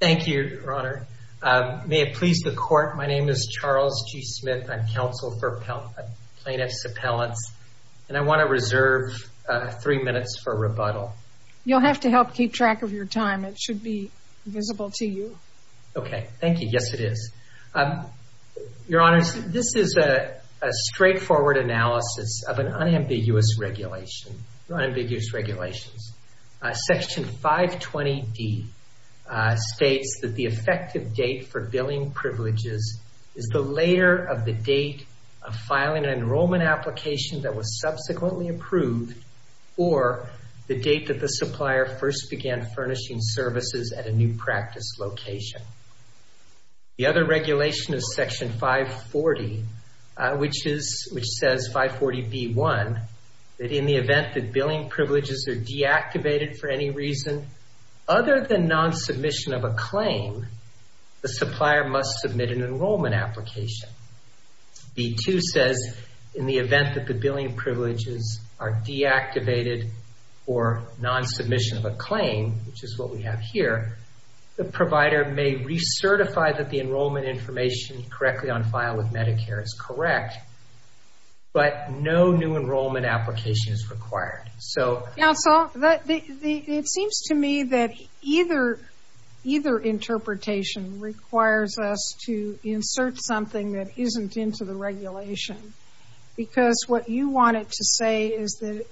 Thank you, Your Honor. May it please the Court, my name is Charles G. Smith. I'm counsel for Plaintiffs' Appellants, and I want to reserve three minutes for rebuttal. You'll have to help keep track of your time. It should be visible to you. Okay, thank you. Yes, it is. Your Honor, this is a straightforward analysis of an unambiguous regulation, unambiguous regulations. Section 520D states that the effective date for billing privileges is the later of the date of filing an enrollment application that was subsequently approved, or the date that the supplier first began furnishing services at a new practice location. The other regulation is Section 540, which says, 540B1, that in the event that billing privileges are deactivated for any reason other than non-submission of a claim, the supplier must submit an enrollment application. Section 540B2 says, in the event that the billing privileges are deactivated for non-submission of a claim, which is what we have here, the provider may recertify that the enrollment information correctly on file with Medicare is correct, but no new enrollment application is required. Counsel, it seems to me that either interpretation requires us to insert something that isn't into the regulation, because what you wanted to say is that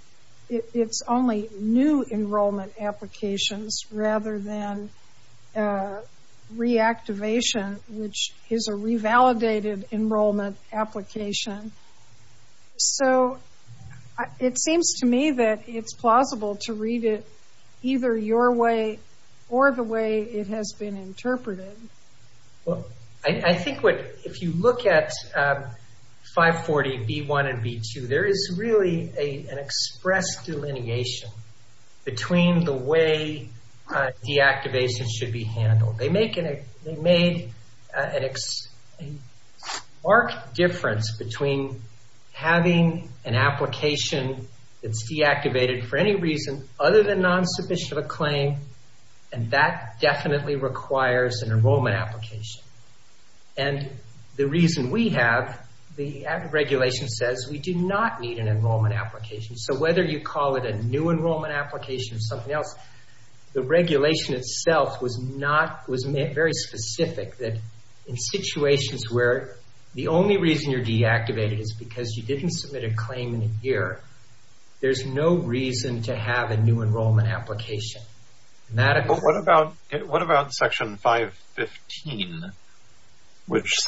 it's only new enrollment applications rather than reactivation, which is a revalidated enrollment application. So, it seems to me that it's plausible to read it either your way or the way it has been interpreted. Well, I think if you look at 540B1 and 540B2, there is really an express delineation between the way deactivation should be handled. They make a marked difference between having an application that's deactivated for any reason other than non-submission of a claim, and that definitely requires an enrollment application. And the reason we have, the regulation says we do not need an enrollment application. So, whether you call it a new enrollment application or something else, the regulation itself was very specific that in situations where the only reason you're deactivated is because you didn't submit a claim in a year, there's no reason to have a new enrollment application. What about Section 515, which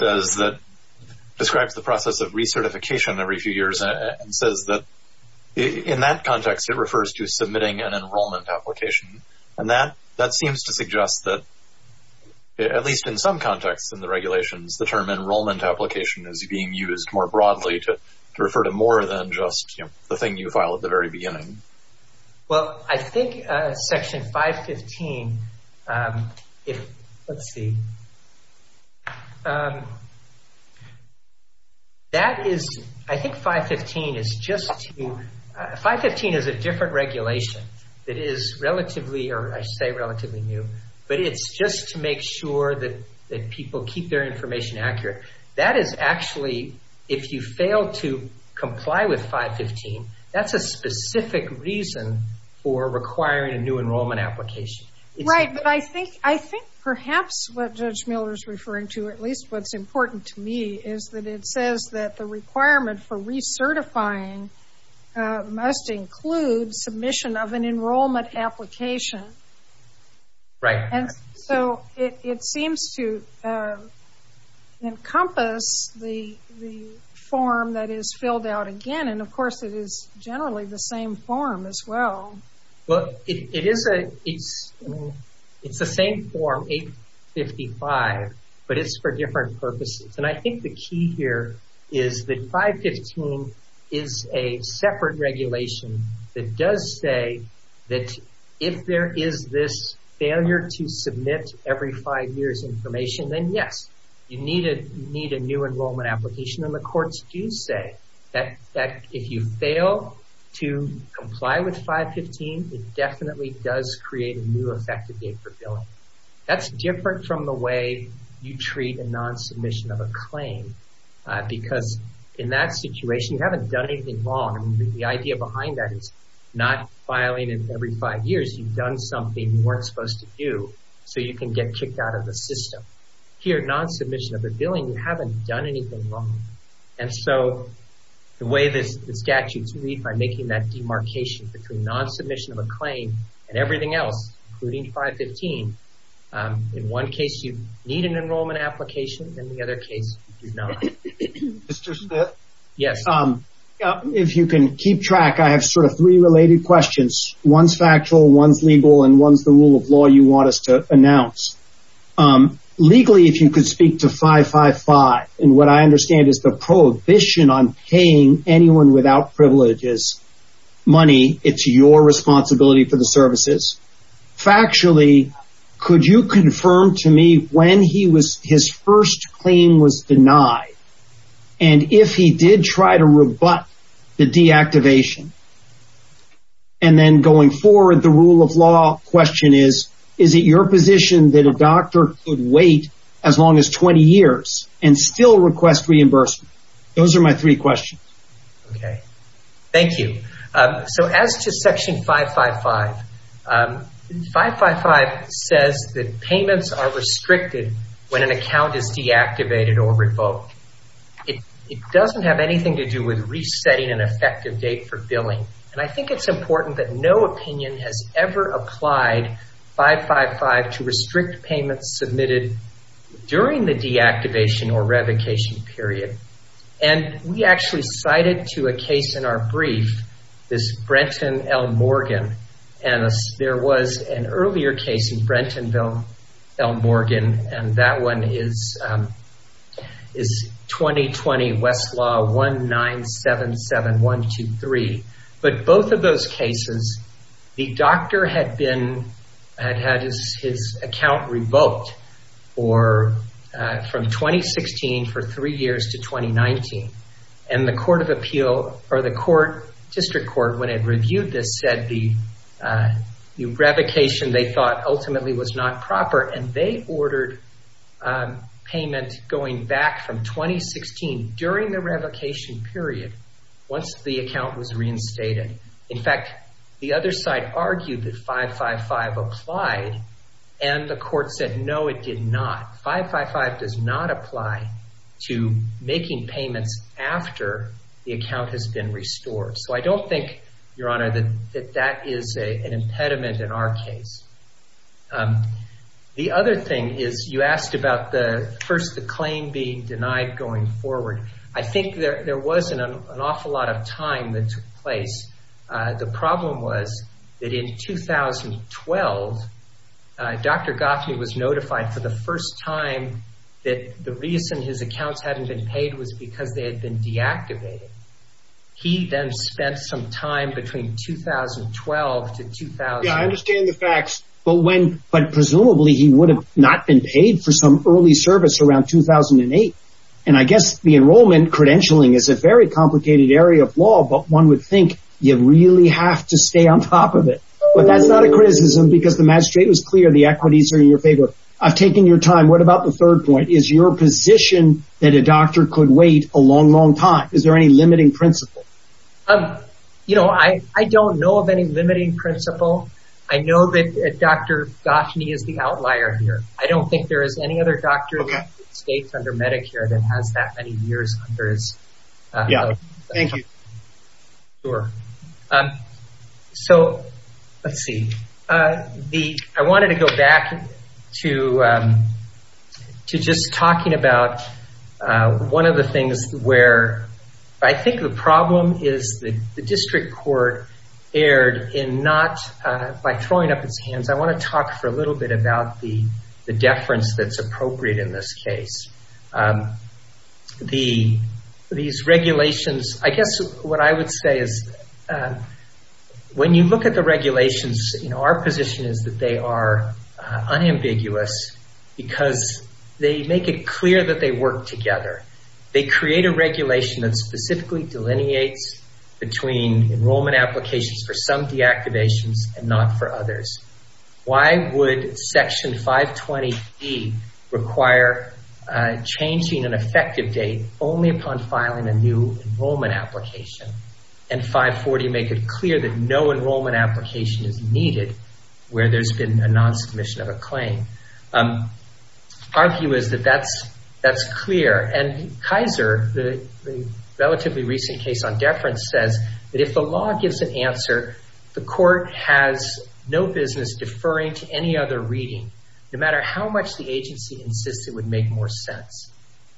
describes the process of recertification every few years and says that in that context it refers to submitting an enrollment application? And that seems to suggest that, at least in some contexts in the regulations, the term enrollment application is being used more broadly to refer to more than just the thing you file at the very beginning. Well, I think Section 515, if, let's see, that is, I think 515 is just to, 515 is a different regulation that is relatively, or I say relatively new, but it's just to make sure that people keep their information accurate. That is actually, if you fail to comply with 515, that's a specific reason for requiring a new enrollment application. Right, but I think perhaps what Judge Miller is referring to, at least what's important to me, is that it says that the requirement for recertifying must include submission of an enrollment application. Right. And so it seems to encompass the form that is filled out again, and of course it is generally the same form as well. Well, it is a, it's the same form, 855, but it's for different purposes. And I think the key here is that 515 is a separate regulation that does say that if there is this failure to submit every five years information, then yes, you need a new enrollment application. And the courts do say that if you fail to comply with 515, it definitely does create a new effective date for billing. That's different from the way you treat a non-submission of a claim, because in that situation, you haven't done anything wrong. I mean, the idea behind that is not filing every five years, you've done something you weren't supposed to do, so you can get kicked out of the system. But here, non-submission of a billing, you haven't done anything wrong. And so the way the statutes read, by making that demarcation between non-submission of a claim and everything else, including 515, in one case you need an enrollment application, in the other case you do not. Mr. Smith? Yes. If you can keep track, I have sort of three related questions. One's factual, one's legal, and one's the rule of law you want us to announce. Legally, if you could speak to 555, and what I understand is the prohibition on paying anyone without privileges money, it's your responsibility for the services. Factually, could you confirm to me when his first claim was denied? And if he did try to rebut the deactivation, and then going forward, the rule of law question is, is it your position that a doctor could wait as long as 20 years and still request reimbursement? Those are my three questions. Okay. Thank you. So as to Section 555, 555 says that payments are restricted when an account is deactivated or revoked. It doesn't have anything to do with resetting an effective date for billing. And I think it's important that no opinion has ever applied 555 to restrict payments submitted during the deactivation or revocation period. And we actually cited to a case in our brief, this Brenton L. Morgan. And there was an earlier case in Brenton L. Morgan, and that one is 2020, Westlaw 1977123. But both of those cases, the doctor had had his account revoked from 2016 for three years to 2019. And the District Court, when it reviewed this, said the revocation, they thought, ultimately was not proper. And they ordered payment going back from 2016 during the revocation period once the account was reinstated. In fact, the other side argued that 555 applied, and the court said, no, it did not. 555 does not apply to making payments after the account has been restored. So I don't think, Your Honor, that that is an impediment in our case. The other thing is you asked about the, first, the claim being denied going forward. I think there was an awful lot of time that took place. The problem was that in 2012, Dr. Goffney was notified for the first time that the reason his accounts hadn't been paid was because they had been deactivated. He then spent some time between 2012 to 2000. Yeah, I understand the facts. But when, but presumably he would have not been paid for some early service around 2008. And I guess the enrollment credentialing is a very complicated area of law, but one would think you really have to stay on top of it. But that's not a criticism because the magistrate was clear the equities are in your favor. I've taken your time. What about the third point? Is your position that a doctor could wait a long, long time? Is there any limiting principle? You know, I don't know of any limiting principle. I know that Dr. Goffney is the outlier here. I don't think there is any other doctor in the United States under Medicare that has that many years under his belt. Yeah, thank you. Sure. So, let's see. I wanted to go back to just talking about one of the things where I think the problem is the district court erred in not, by throwing up its hands. I want to talk for a little bit about the deference that's appropriate in this case. These regulations, I guess what I would say is when you look at the regulations, you know, our position is that they are unambiguous because they make it clear that they work together. They create a regulation that specifically delineates between enrollment applications for some deactivations and not for others. Why would Section 520E require changing an effective date only upon filing a new enrollment application, and 540 make it clear that no enrollment application is needed where there's been a non-submission of a claim? Our view is that that's clear, and Kaiser, the relatively recent case on deference, says that if the law gives an answer, the court has no business deferring to any other reading, no matter how much the agency insists it would make more sense.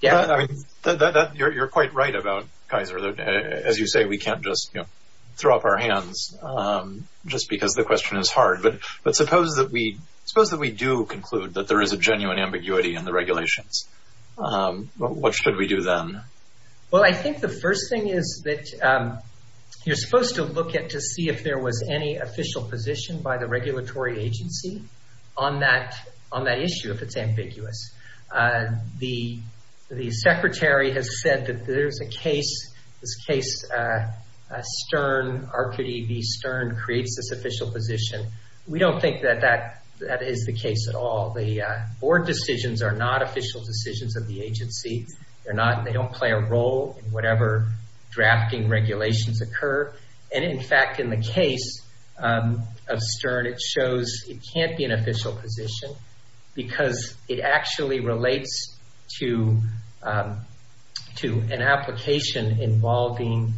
You're quite right about Kaiser. As you say, we can't just throw up our hands just because the question is hard. But suppose that we do conclude that there is a genuine ambiguity in the regulations. What should we do then? Well, I think the first thing is that you're supposed to look at to see if there was any official position by the regulatory agency on that issue, if it's ambiguous. The Secretary has said that there's a case, this case Stern, RQD v. Stern, creates this official position. We don't think that that is the case at all. The board decisions are not official decisions of the agency. They don't play a role in whatever drafting regulations occur. And, in fact, in the case of Stern, it shows it can't be an official position because it actually relates to an application involving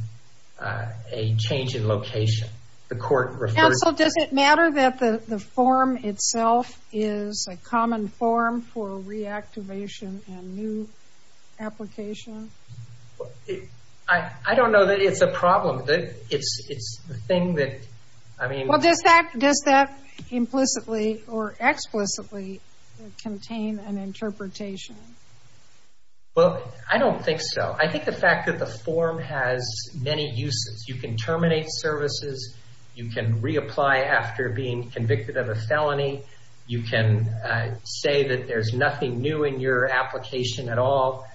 a change in location. Counsel, does it matter that the form itself is a common form for reactivation and new application? I don't know that it's a problem. Well, does that implicitly or explicitly contain an interpretation? Well, I don't think so. I think the fact that the form has many uses. You can terminate services. You can reapply after being convicted of a felony. You can say that there's nothing new in your application at all.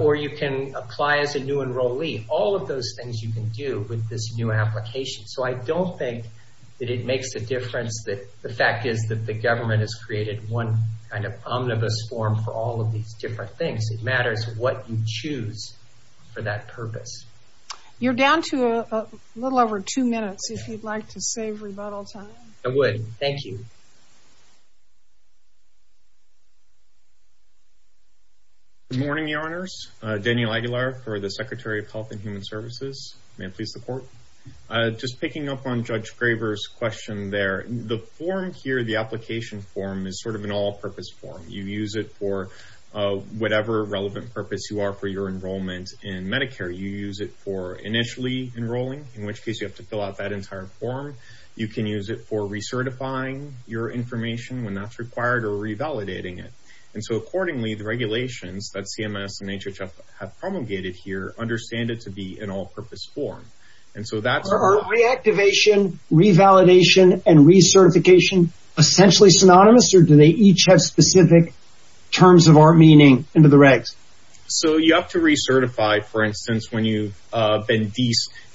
Or you can apply as a new enrollee. All of those things you can do with this new application. So I don't think that it makes a difference. The fact is that the government has created one kind of omnibus form for all of these different things. It matters what you choose for that purpose. You're down to a little over two minutes, if you'd like to save rebuttal time. I would. Thank you. Good morning, Your Honors. Daniel Aguilar for the Secretary of Health and Human Services. May it please the Court. Just picking up on Judge Graver's question there. The form here, the application form, is sort of an all-purpose form. You use it for whatever relevant purpose you are for your enrollment in Medicare. You use it for initially enrolling, in which case you have to fill out that entire form. You can use it for recertifying your information when that's required or revalidating it. Accordingly, the regulations that CMS and HHF have promulgated here understand it to be an all-purpose form. Are reactivation, revalidation, and recertification essentially synonymous, or do they each have specific terms of our meaning into the regs? You have to recertify, for instance, when you've been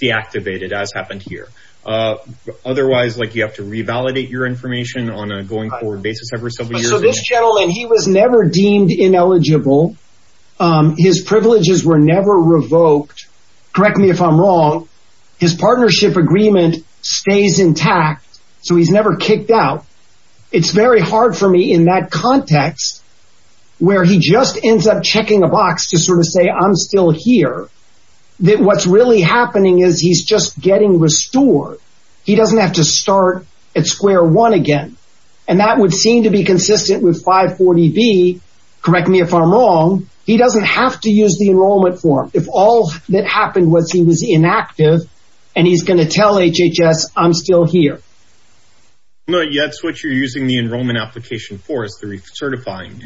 deactivated, as happened here. Otherwise, you have to revalidate your information on a going-forward basis every several years. So this gentleman, he was never deemed ineligible. His privileges were never revoked. Correct me if I'm wrong. His partnership agreement stays intact, so he's never kicked out. It's very hard for me in that context where he just ends up checking a box to sort of say, I'm still here, that what's really happening is he's just getting restored. He doesn't have to start at square one again, and that would seem to be consistent with 540B. Correct me if I'm wrong. He doesn't have to use the enrollment form. If all that happened was he was inactive and he's going to tell HHS, I'm still here. No, that's what you're using the enrollment application for is the recertifying.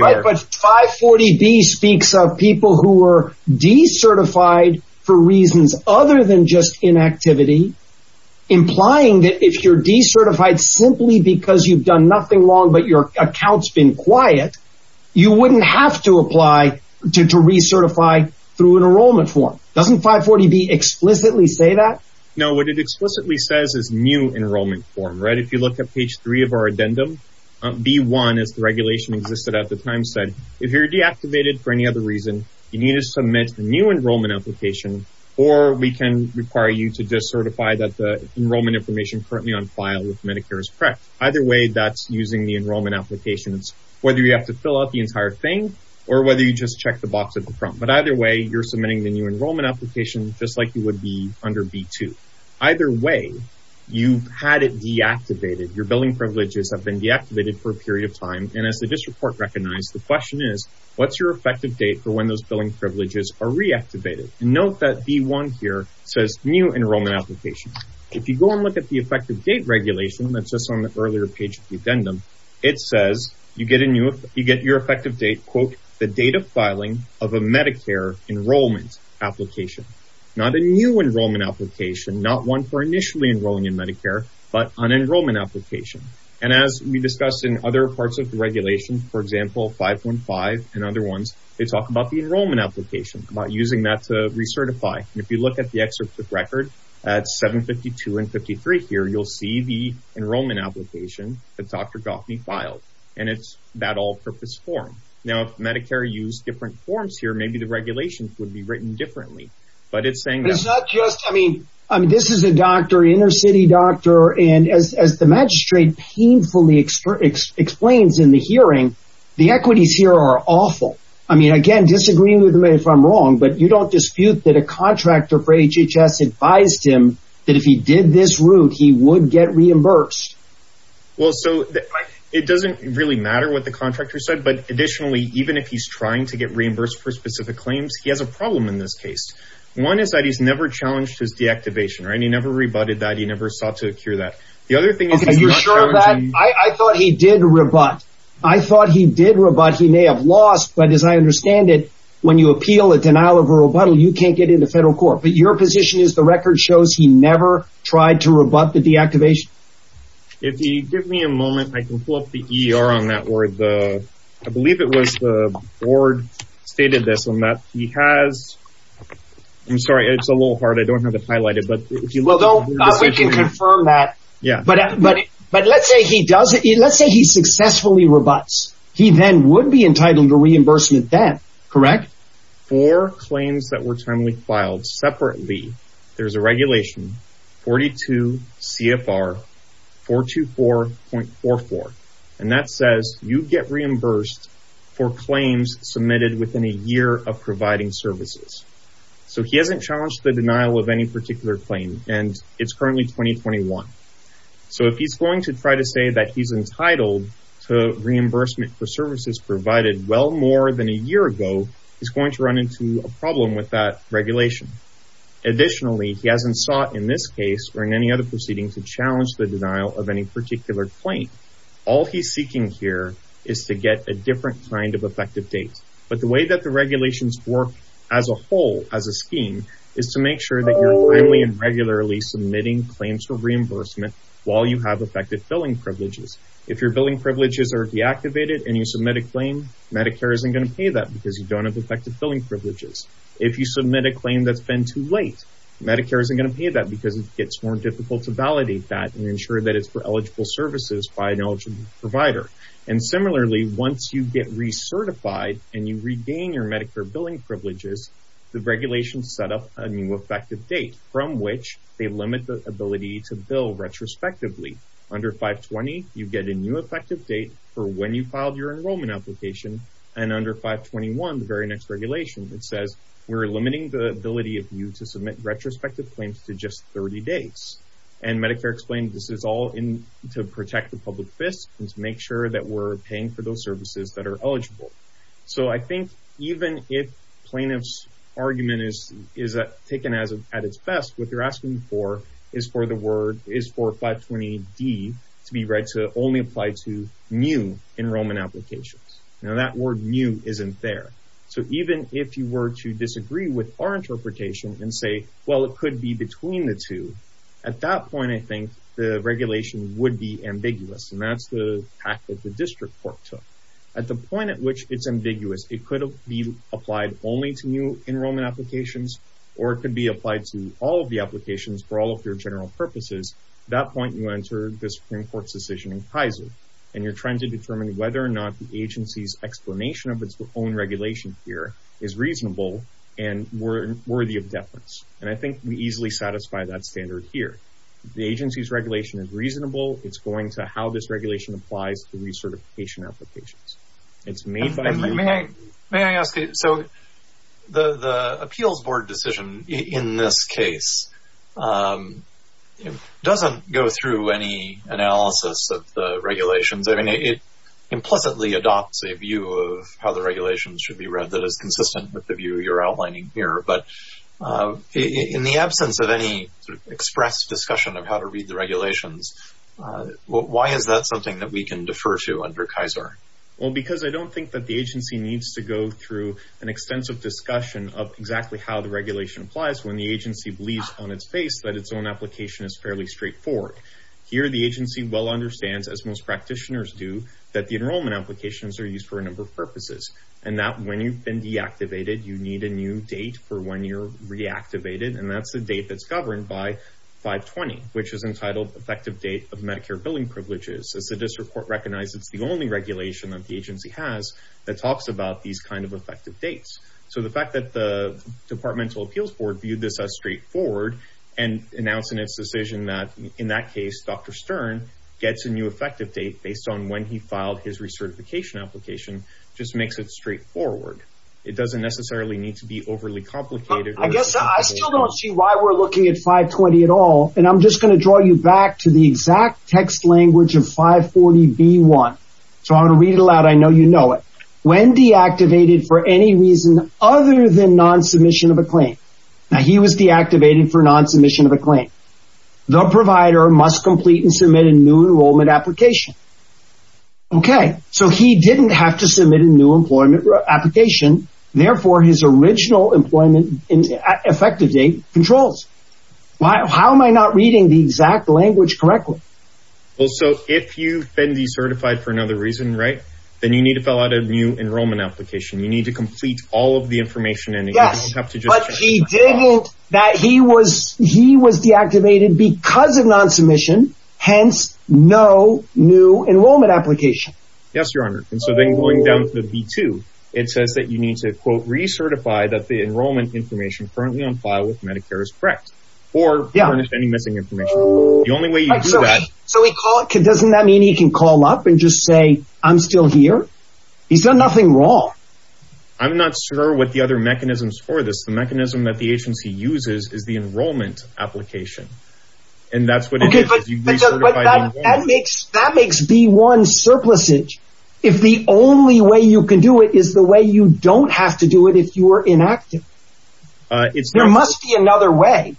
Right, but 540B speaks of people who were decertified for reasons other than just inactivity, implying that if you're decertified simply because you've done nothing wrong but your account's been quiet, you wouldn't have to apply to recertify through an enrollment form. Doesn't 540B explicitly say that? No, what it explicitly says is new enrollment form. If you look at page three of our addendum, B1, as the regulation existed at the time, said, if you're deactivated for any other reason, you need to submit the new enrollment application, or we can require you to decertify that the enrollment information currently on file with Medicare is correct. Either way, that's using the enrollment application. It's whether you have to fill out the entire thing or whether you just check the box at the front. But either way, you're submitting the new enrollment application just like you would be under B2. Either way, you've had it deactivated. Your billing privileges have been deactivated for a period of time. And as the district court recognized, the question is, what's your effective date for when those billing privileges are reactivated? Note that B1 here says new enrollment application. If you go and look at the effective date regulation that's just on the earlier page of the addendum, it says you get your effective date, quote, the date of filing of a Medicare enrollment application. Not a new enrollment application, not one for initially enrolling in Medicare, but an enrollment application. And as we discussed in other parts of the regulation, for example, 515 and other ones, they talk about the enrollment application, about using that to recertify. And if you look at the excerpt of record at 752 and 53 here, you'll see the enrollment application that Dr. Goffney filed. And it's that all-purpose form. Now, if Medicare used different forms here, maybe the regulations would be written differently. But it's saying that. But it's not just, I mean, this is a doctor, inner city doctor, and as the magistrate painfully explains in the hearing, the equities here are awful. I mean, again, disagree with me if I'm wrong, but you don't dispute that a contractor for HHS advised him that if he did this route, he would get reimbursed. Well, so it doesn't really matter what the contractor said, but additionally, even if he's trying to get reimbursed for specific claims, he has a problem in this case. One is that he's never challenged his deactivation. He never rebutted that. He never sought to cure that. The other thing is he's not challenging. Are you sure of that? I thought he did rebut. I thought he did rebut. He may have lost. But as I understand it, when you appeal a denial of rebuttal, you can't get into federal court. But your position is the record shows he never tried to rebut the deactivation? If you give me a moment, I can pull up the E.R. on that word. I believe it was the board stated this on that. He has. I'm sorry. It's a little hard. I don't have it highlighted. But if you will, though, we can confirm that. Yeah, but. But let's say he does it. Let's say he successfully rebuts. He then would be entitled to reimbursement then. Correct. For claims that were timely filed separately, there's a regulation 42 CFR 424.44. And that says you get reimbursed for claims submitted within a year of providing services. So he hasn't challenged the denial of any particular claim. And it's currently 2021. So if he's going to try to say that he's entitled to reimbursement for services provided well more than a year ago, he's going to run into a problem with that regulation. Additionally, he hasn't sought in this case or in any other proceeding to challenge the denial of any particular claim. All he's seeking here is to get a different kind of effective date. But the way that the regulations work as a whole, as a scheme, is to make sure that you're timely and regularly submitting claims for reimbursement while you have effective billing privileges. If your billing privileges are deactivated and you submit a claim, Medicare isn't going to pay that because you don't have effective billing privileges. If you submit a claim that's been too late, Medicare isn't going to pay that because it gets more difficult to validate that and ensure that it's for eligible services by an eligible provider. And similarly, once you get recertified and you regain your Medicare billing privileges, the regulations set up a new effective date from which they limit the ability to bill retrospectively. Under 520, you get a new effective date for when you filed your enrollment application. And under 521, the very next regulation, it says we're limiting the ability of you to submit retrospective claims to just 30 days. And Medicare explains this is all to protect the public fist and to make sure that we're paying for those services that are eligible. So I think even if plaintiff's argument is taken at its best, what they're asking for is for 520D to be read to only apply to new enrollment applications. Now, that word new isn't there. So even if you were to disagree with our interpretation and say, well, it could be between the two, at that point, I think the regulation would be ambiguous. And that's the path that the district court took. At the point at which it's ambiguous, it could be applied only to new enrollment applications, or it could be applied to all of the applications for all of your general purposes. At that point, you enter the Supreme Court's decision in Kaiser. And you're trying to determine whether or not the agency's explanation of its own regulation here is reasonable and worthy of deference. And I think we easily satisfy that standard here. The agency's regulation is reasonable. It's going to how this regulation applies to recertification applications. May I ask you, so the appeals board decision in this case doesn't go through any analysis of the regulations. I mean, it implicitly adopts a view of how the regulations should be read that is consistent with the view you're outlining here. But in the absence of any sort of express discussion of how to read the regulations, why is that something that we can defer to under Kaiser? Well, because I don't think that the agency needs to go through an extensive discussion of exactly how the regulation applies when the agency believes on its face that its own application is fairly straightforward. Here, the agency well understands, as most practitioners do, and that when you've been deactivated, you need a new date for when you're reactivated. And that's the date that's governed by 520, which is entitled Effective Date of Medicare Billing Privileges. As the district court recognizes, it's the only regulation that the agency has that talks about these kind of effective dates. So the fact that the departmental appeals board viewed this as straightforward and announcing its decision that, in that case, Dr. Stern gets a new effective date based on when he filed his recertification application just makes it straightforward. It doesn't necessarily need to be overly complicated. I guess I still don't see why we're looking at 520 at all, and I'm just going to draw you back to the exact text language of 540B1. So I'm going to read it aloud. I know you know it. When deactivated for any reason other than non-submission of a claim. Now, he was deactivated for non-submission of a claim. The provider must complete and submit a new enrollment application. Okay, so he didn't have to submit a new employment application. Therefore, his original employment effective date controls. How am I not reading the exact language correctly? Well, so if you've been decertified for another reason, right, then you need to fill out a new enrollment application. You need to complete all of the information in it. Yes, but he didn't that he was he was deactivated because of non-submission. Hence, no new enrollment application. Yes, Your Honor. And so then going down to the B2, it says that you need to, quote, recertify that the enrollment information currently on file with Medicare is correct or any missing information. The only way you can do that. So we call it. Doesn't that mean he can call up and just say, I'm still here? He's done nothing wrong. I'm not sure what the other mechanisms for this. The mechanism that the agency uses is the enrollment application. And that's what it is. That makes B1 surplusage if the only way you can do it is the way you don't have to do it if you are inactive. It's there must be another way.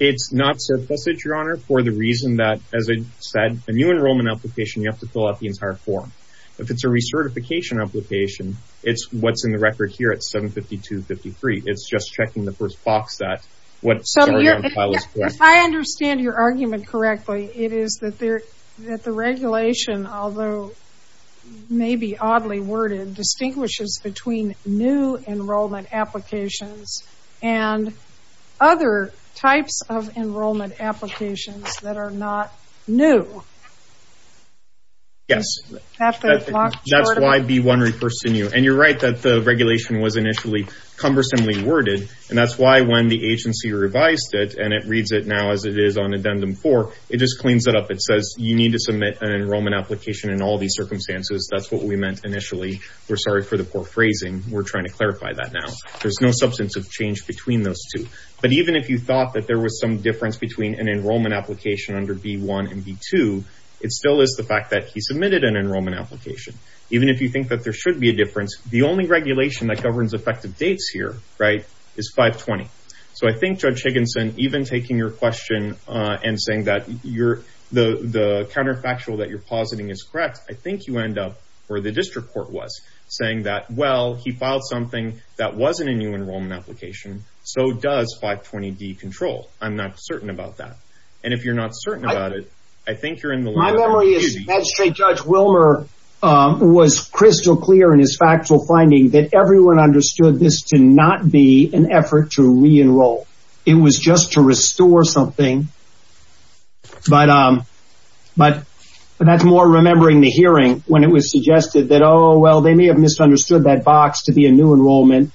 It's not surplusage, Your Honor, for the reason that, as I said, a new enrollment application, you have to fill out the entire form. If it's a recertification application, it's what's in the record here at 752-53. It's just checking the first box that. If I understand your argument correctly, it is that the regulation, although maybe oddly worded, distinguishes between new enrollment applications and other types of enrollment applications that are not new. Yes. That's why B1 refers to new. And you're right that the regulation was initially cumbersomely worded. And that's why when the agency revised it and it reads it now as it is on Addendum 4, it just cleans it up. It says you need to submit an enrollment application in all these circumstances. That's what we meant initially. We're sorry for the poor phrasing. We're trying to clarify that now. There's no substantive change between those two. But even if you thought that there was some difference between an enrollment application under B1 and B2, it still is the fact that he submitted an enrollment application. Even if you think that there should be a difference, the only regulation that governs effective dates here is 520. So I think, Judge Higginson, even taking your question and saying that the counterfactual that you're positing is correct, I think you end up where the district court was, saying that, well, he filed something that wasn't a new enrollment application. So does 520D control. I'm not certain about that. And if you're not certain about it, I think you're in the wrong. My memory is that Judge Wilmer was crystal clear in his factual finding that everyone understood this to not be an effort to re-enroll. It was just to restore something. But that's more remembering the hearing when it was suggested that, oh, well, they may have misunderstood that box to be a new enrollment.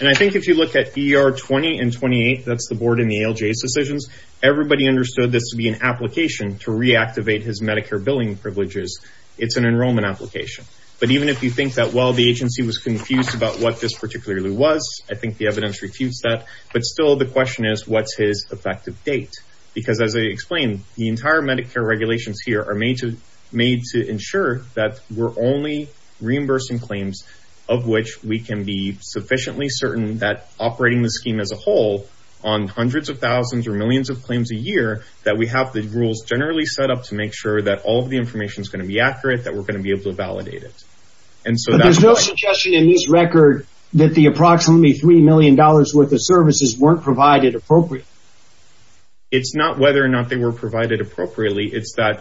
And I think if you look at ER20 and 28, that's the board in the ALJ's decisions, everybody understood this to be an application to reactivate his Medicare billing privileges. It's an enrollment application. But even if you think that, well, the agency was confused about what this particularly was, I think the evidence refutes that. But still the question is, what's his effective date? Because as I explained, the entire Medicare regulations here are made to ensure that we're only reimbursing claims of which we can be sufficiently certain that operating the scheme as a whole on hundreds of thousands or millions of claims a year, that we have the rules generally set up to make sure that all of the information is going to be accurate, that we're going to be able to validate it. But there's no suggestion in this record that the approximately $3 million worth of services weren't provided appropriately. It's not whether or not they were provided appropriately, it's that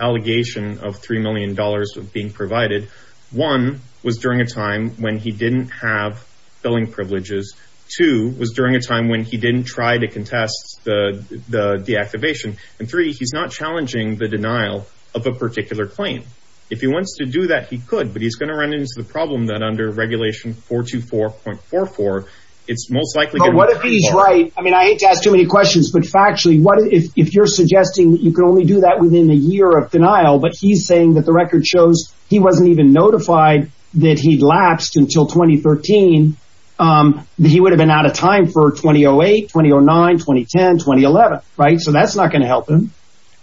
allegation of $3 million being provided. One was during a time when he didn't have billing privileges. Two was during a time when he didn't try to contest the deactivation. And three, he's not challenging the denial of a particular claim. If he wants to do that, he could, but he's going to run into the problem that under regulation 424.44, it's most likely going to be I ask too many questions, but factually, if you're suggesting that you can only do that within a year of denial, but he's saying that the record shows he wasn't even notified that he'd lapsed until 2013, that he would have been out of time for 2008, 2009, 2010, 2011, right? So that's not going to help him.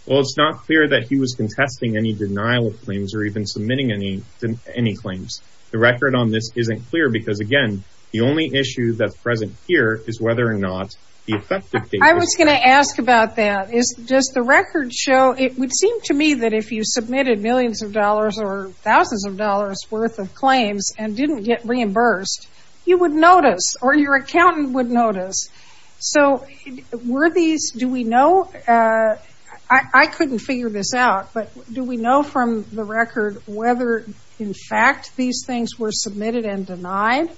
Well, it's not clear that he was contesting any denial of claims or even submitting any claims. The record on this isn't clear because, again, the only issue that's present here is whether or not the effective date was set. I was going to ask about that. Does the record show, it would seem to me that if you submitted millions of dollars or thousands of dollars worth of claims and didn't get reimbursed, you would notice or your accountant would notice. So were these, do we know, I couldn't figure this out, but do we know from the record whether, in fact, these things were submitted and denied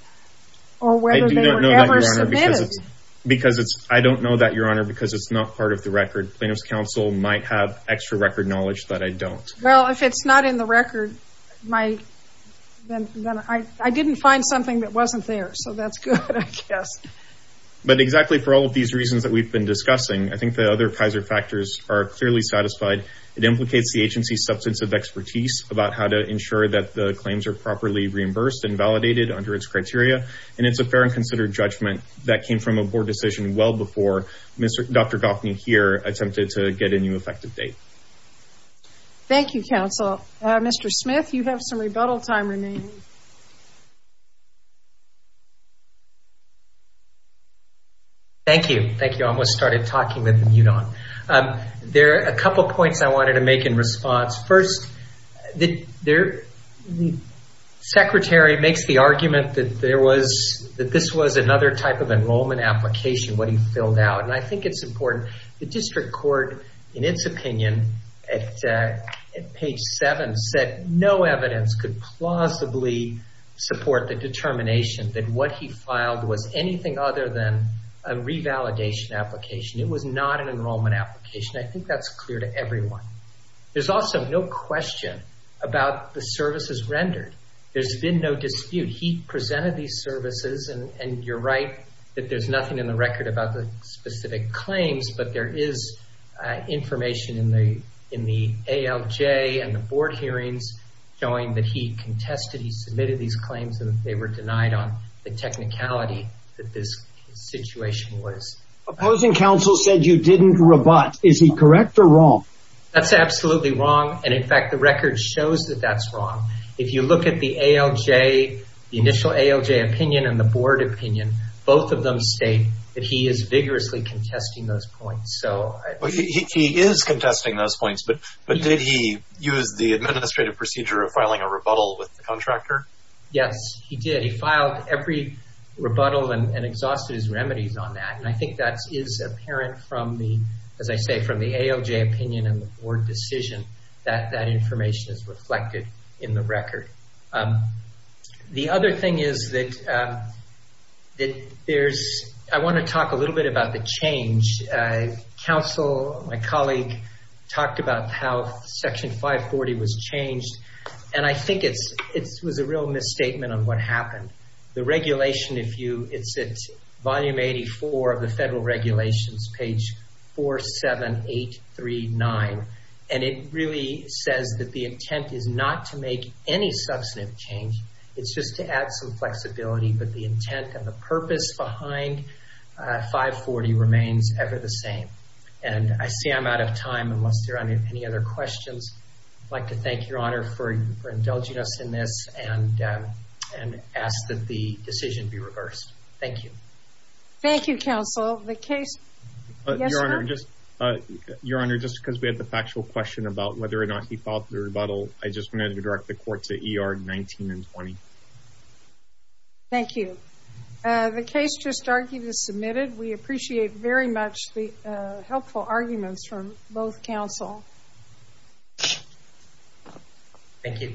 or whether they were ever submitted? I don't know that, Your Honor, because it's not part of the record. Plaintiff's counsel might have extra record knowledge that I don't. Well, if it's not in the record, then I didn't find something that wasn't there, so that's good, I guess. But exactly for all of these reasons that we've been discussing, I think the other Kaiser factors are clearly satisfied. It implicates the agency's substantive expertise about how to ensure that the claims are properly reimbursed and validated under its criteria, and it's a fair and considered judgment that came from a board decision well before Dr. Goffney here attempted to get a new effective date. Thank you, counsel. Mr. Smith, you have some rebuttal time remaining. Thank you. Thank you. I almost started talking with the mute on. There are a couple of points I wanted to make in response. First, the secretary makes the argument that this was another type of enrollment application, what he filled out, and I think it's important. The district court, in its opinion, at page 7, said no evidence could plausibly support the determination that what he filed was anything other than a revalidation application. It was not an enrollment application. I think that's clear to everyone. There's also no question about the services rendered. There's been no dispute. He presented these services, and you're right that there's nothing in the record about the specific claims, but there is information in the ALJ and the board hearings showing that he contested, he submitted these claims, and they were denied on the technicality that this situation was. Opposing counsel said you didn't rebut. Is he correct or wrong? That's absolutely wrong, and, in fact, the record shows that that's wrong. If you look at the ALJ, the initial ALJ opinion and the board opinion, both of them state that he is vigorously contesting those points. He is contesting those points, but did he use the administrative procedure of filing a rebuttal with the contractor? Yes, he did. He filed every rebuttal and exhausted his remedies on that, and I think that is apparent, as I say, from the ALJ opinion and the board decision that that information is reflected in the record. The other thing is that I want to talk a little bit about the change. Counsel, my colleague, talked about how Section 540 was changed, and I think it was a real misstatement on what happened. The regulation, if you, it's at Volume 84 of the Federal Regulations, page 47839, and it really says that the intent is not to make any substantive change. It's just to add some flexibility, but the intent and the purpose behind 540 remains ever the same, and I see I'm out of time unless there are any other questions. I'd like to thank Your Honor for indulging us in this and ask that the decision be reversed. Thank you. Thank you, Counsel. Your Honor, just because we had the factual question about whether or not he filed the rebuttal, I just wanted to direct the court to ER 19 and 20. Thank you. The case just argued is submitted. We appreciate very much the helpful arguments from both counsel. Thank you.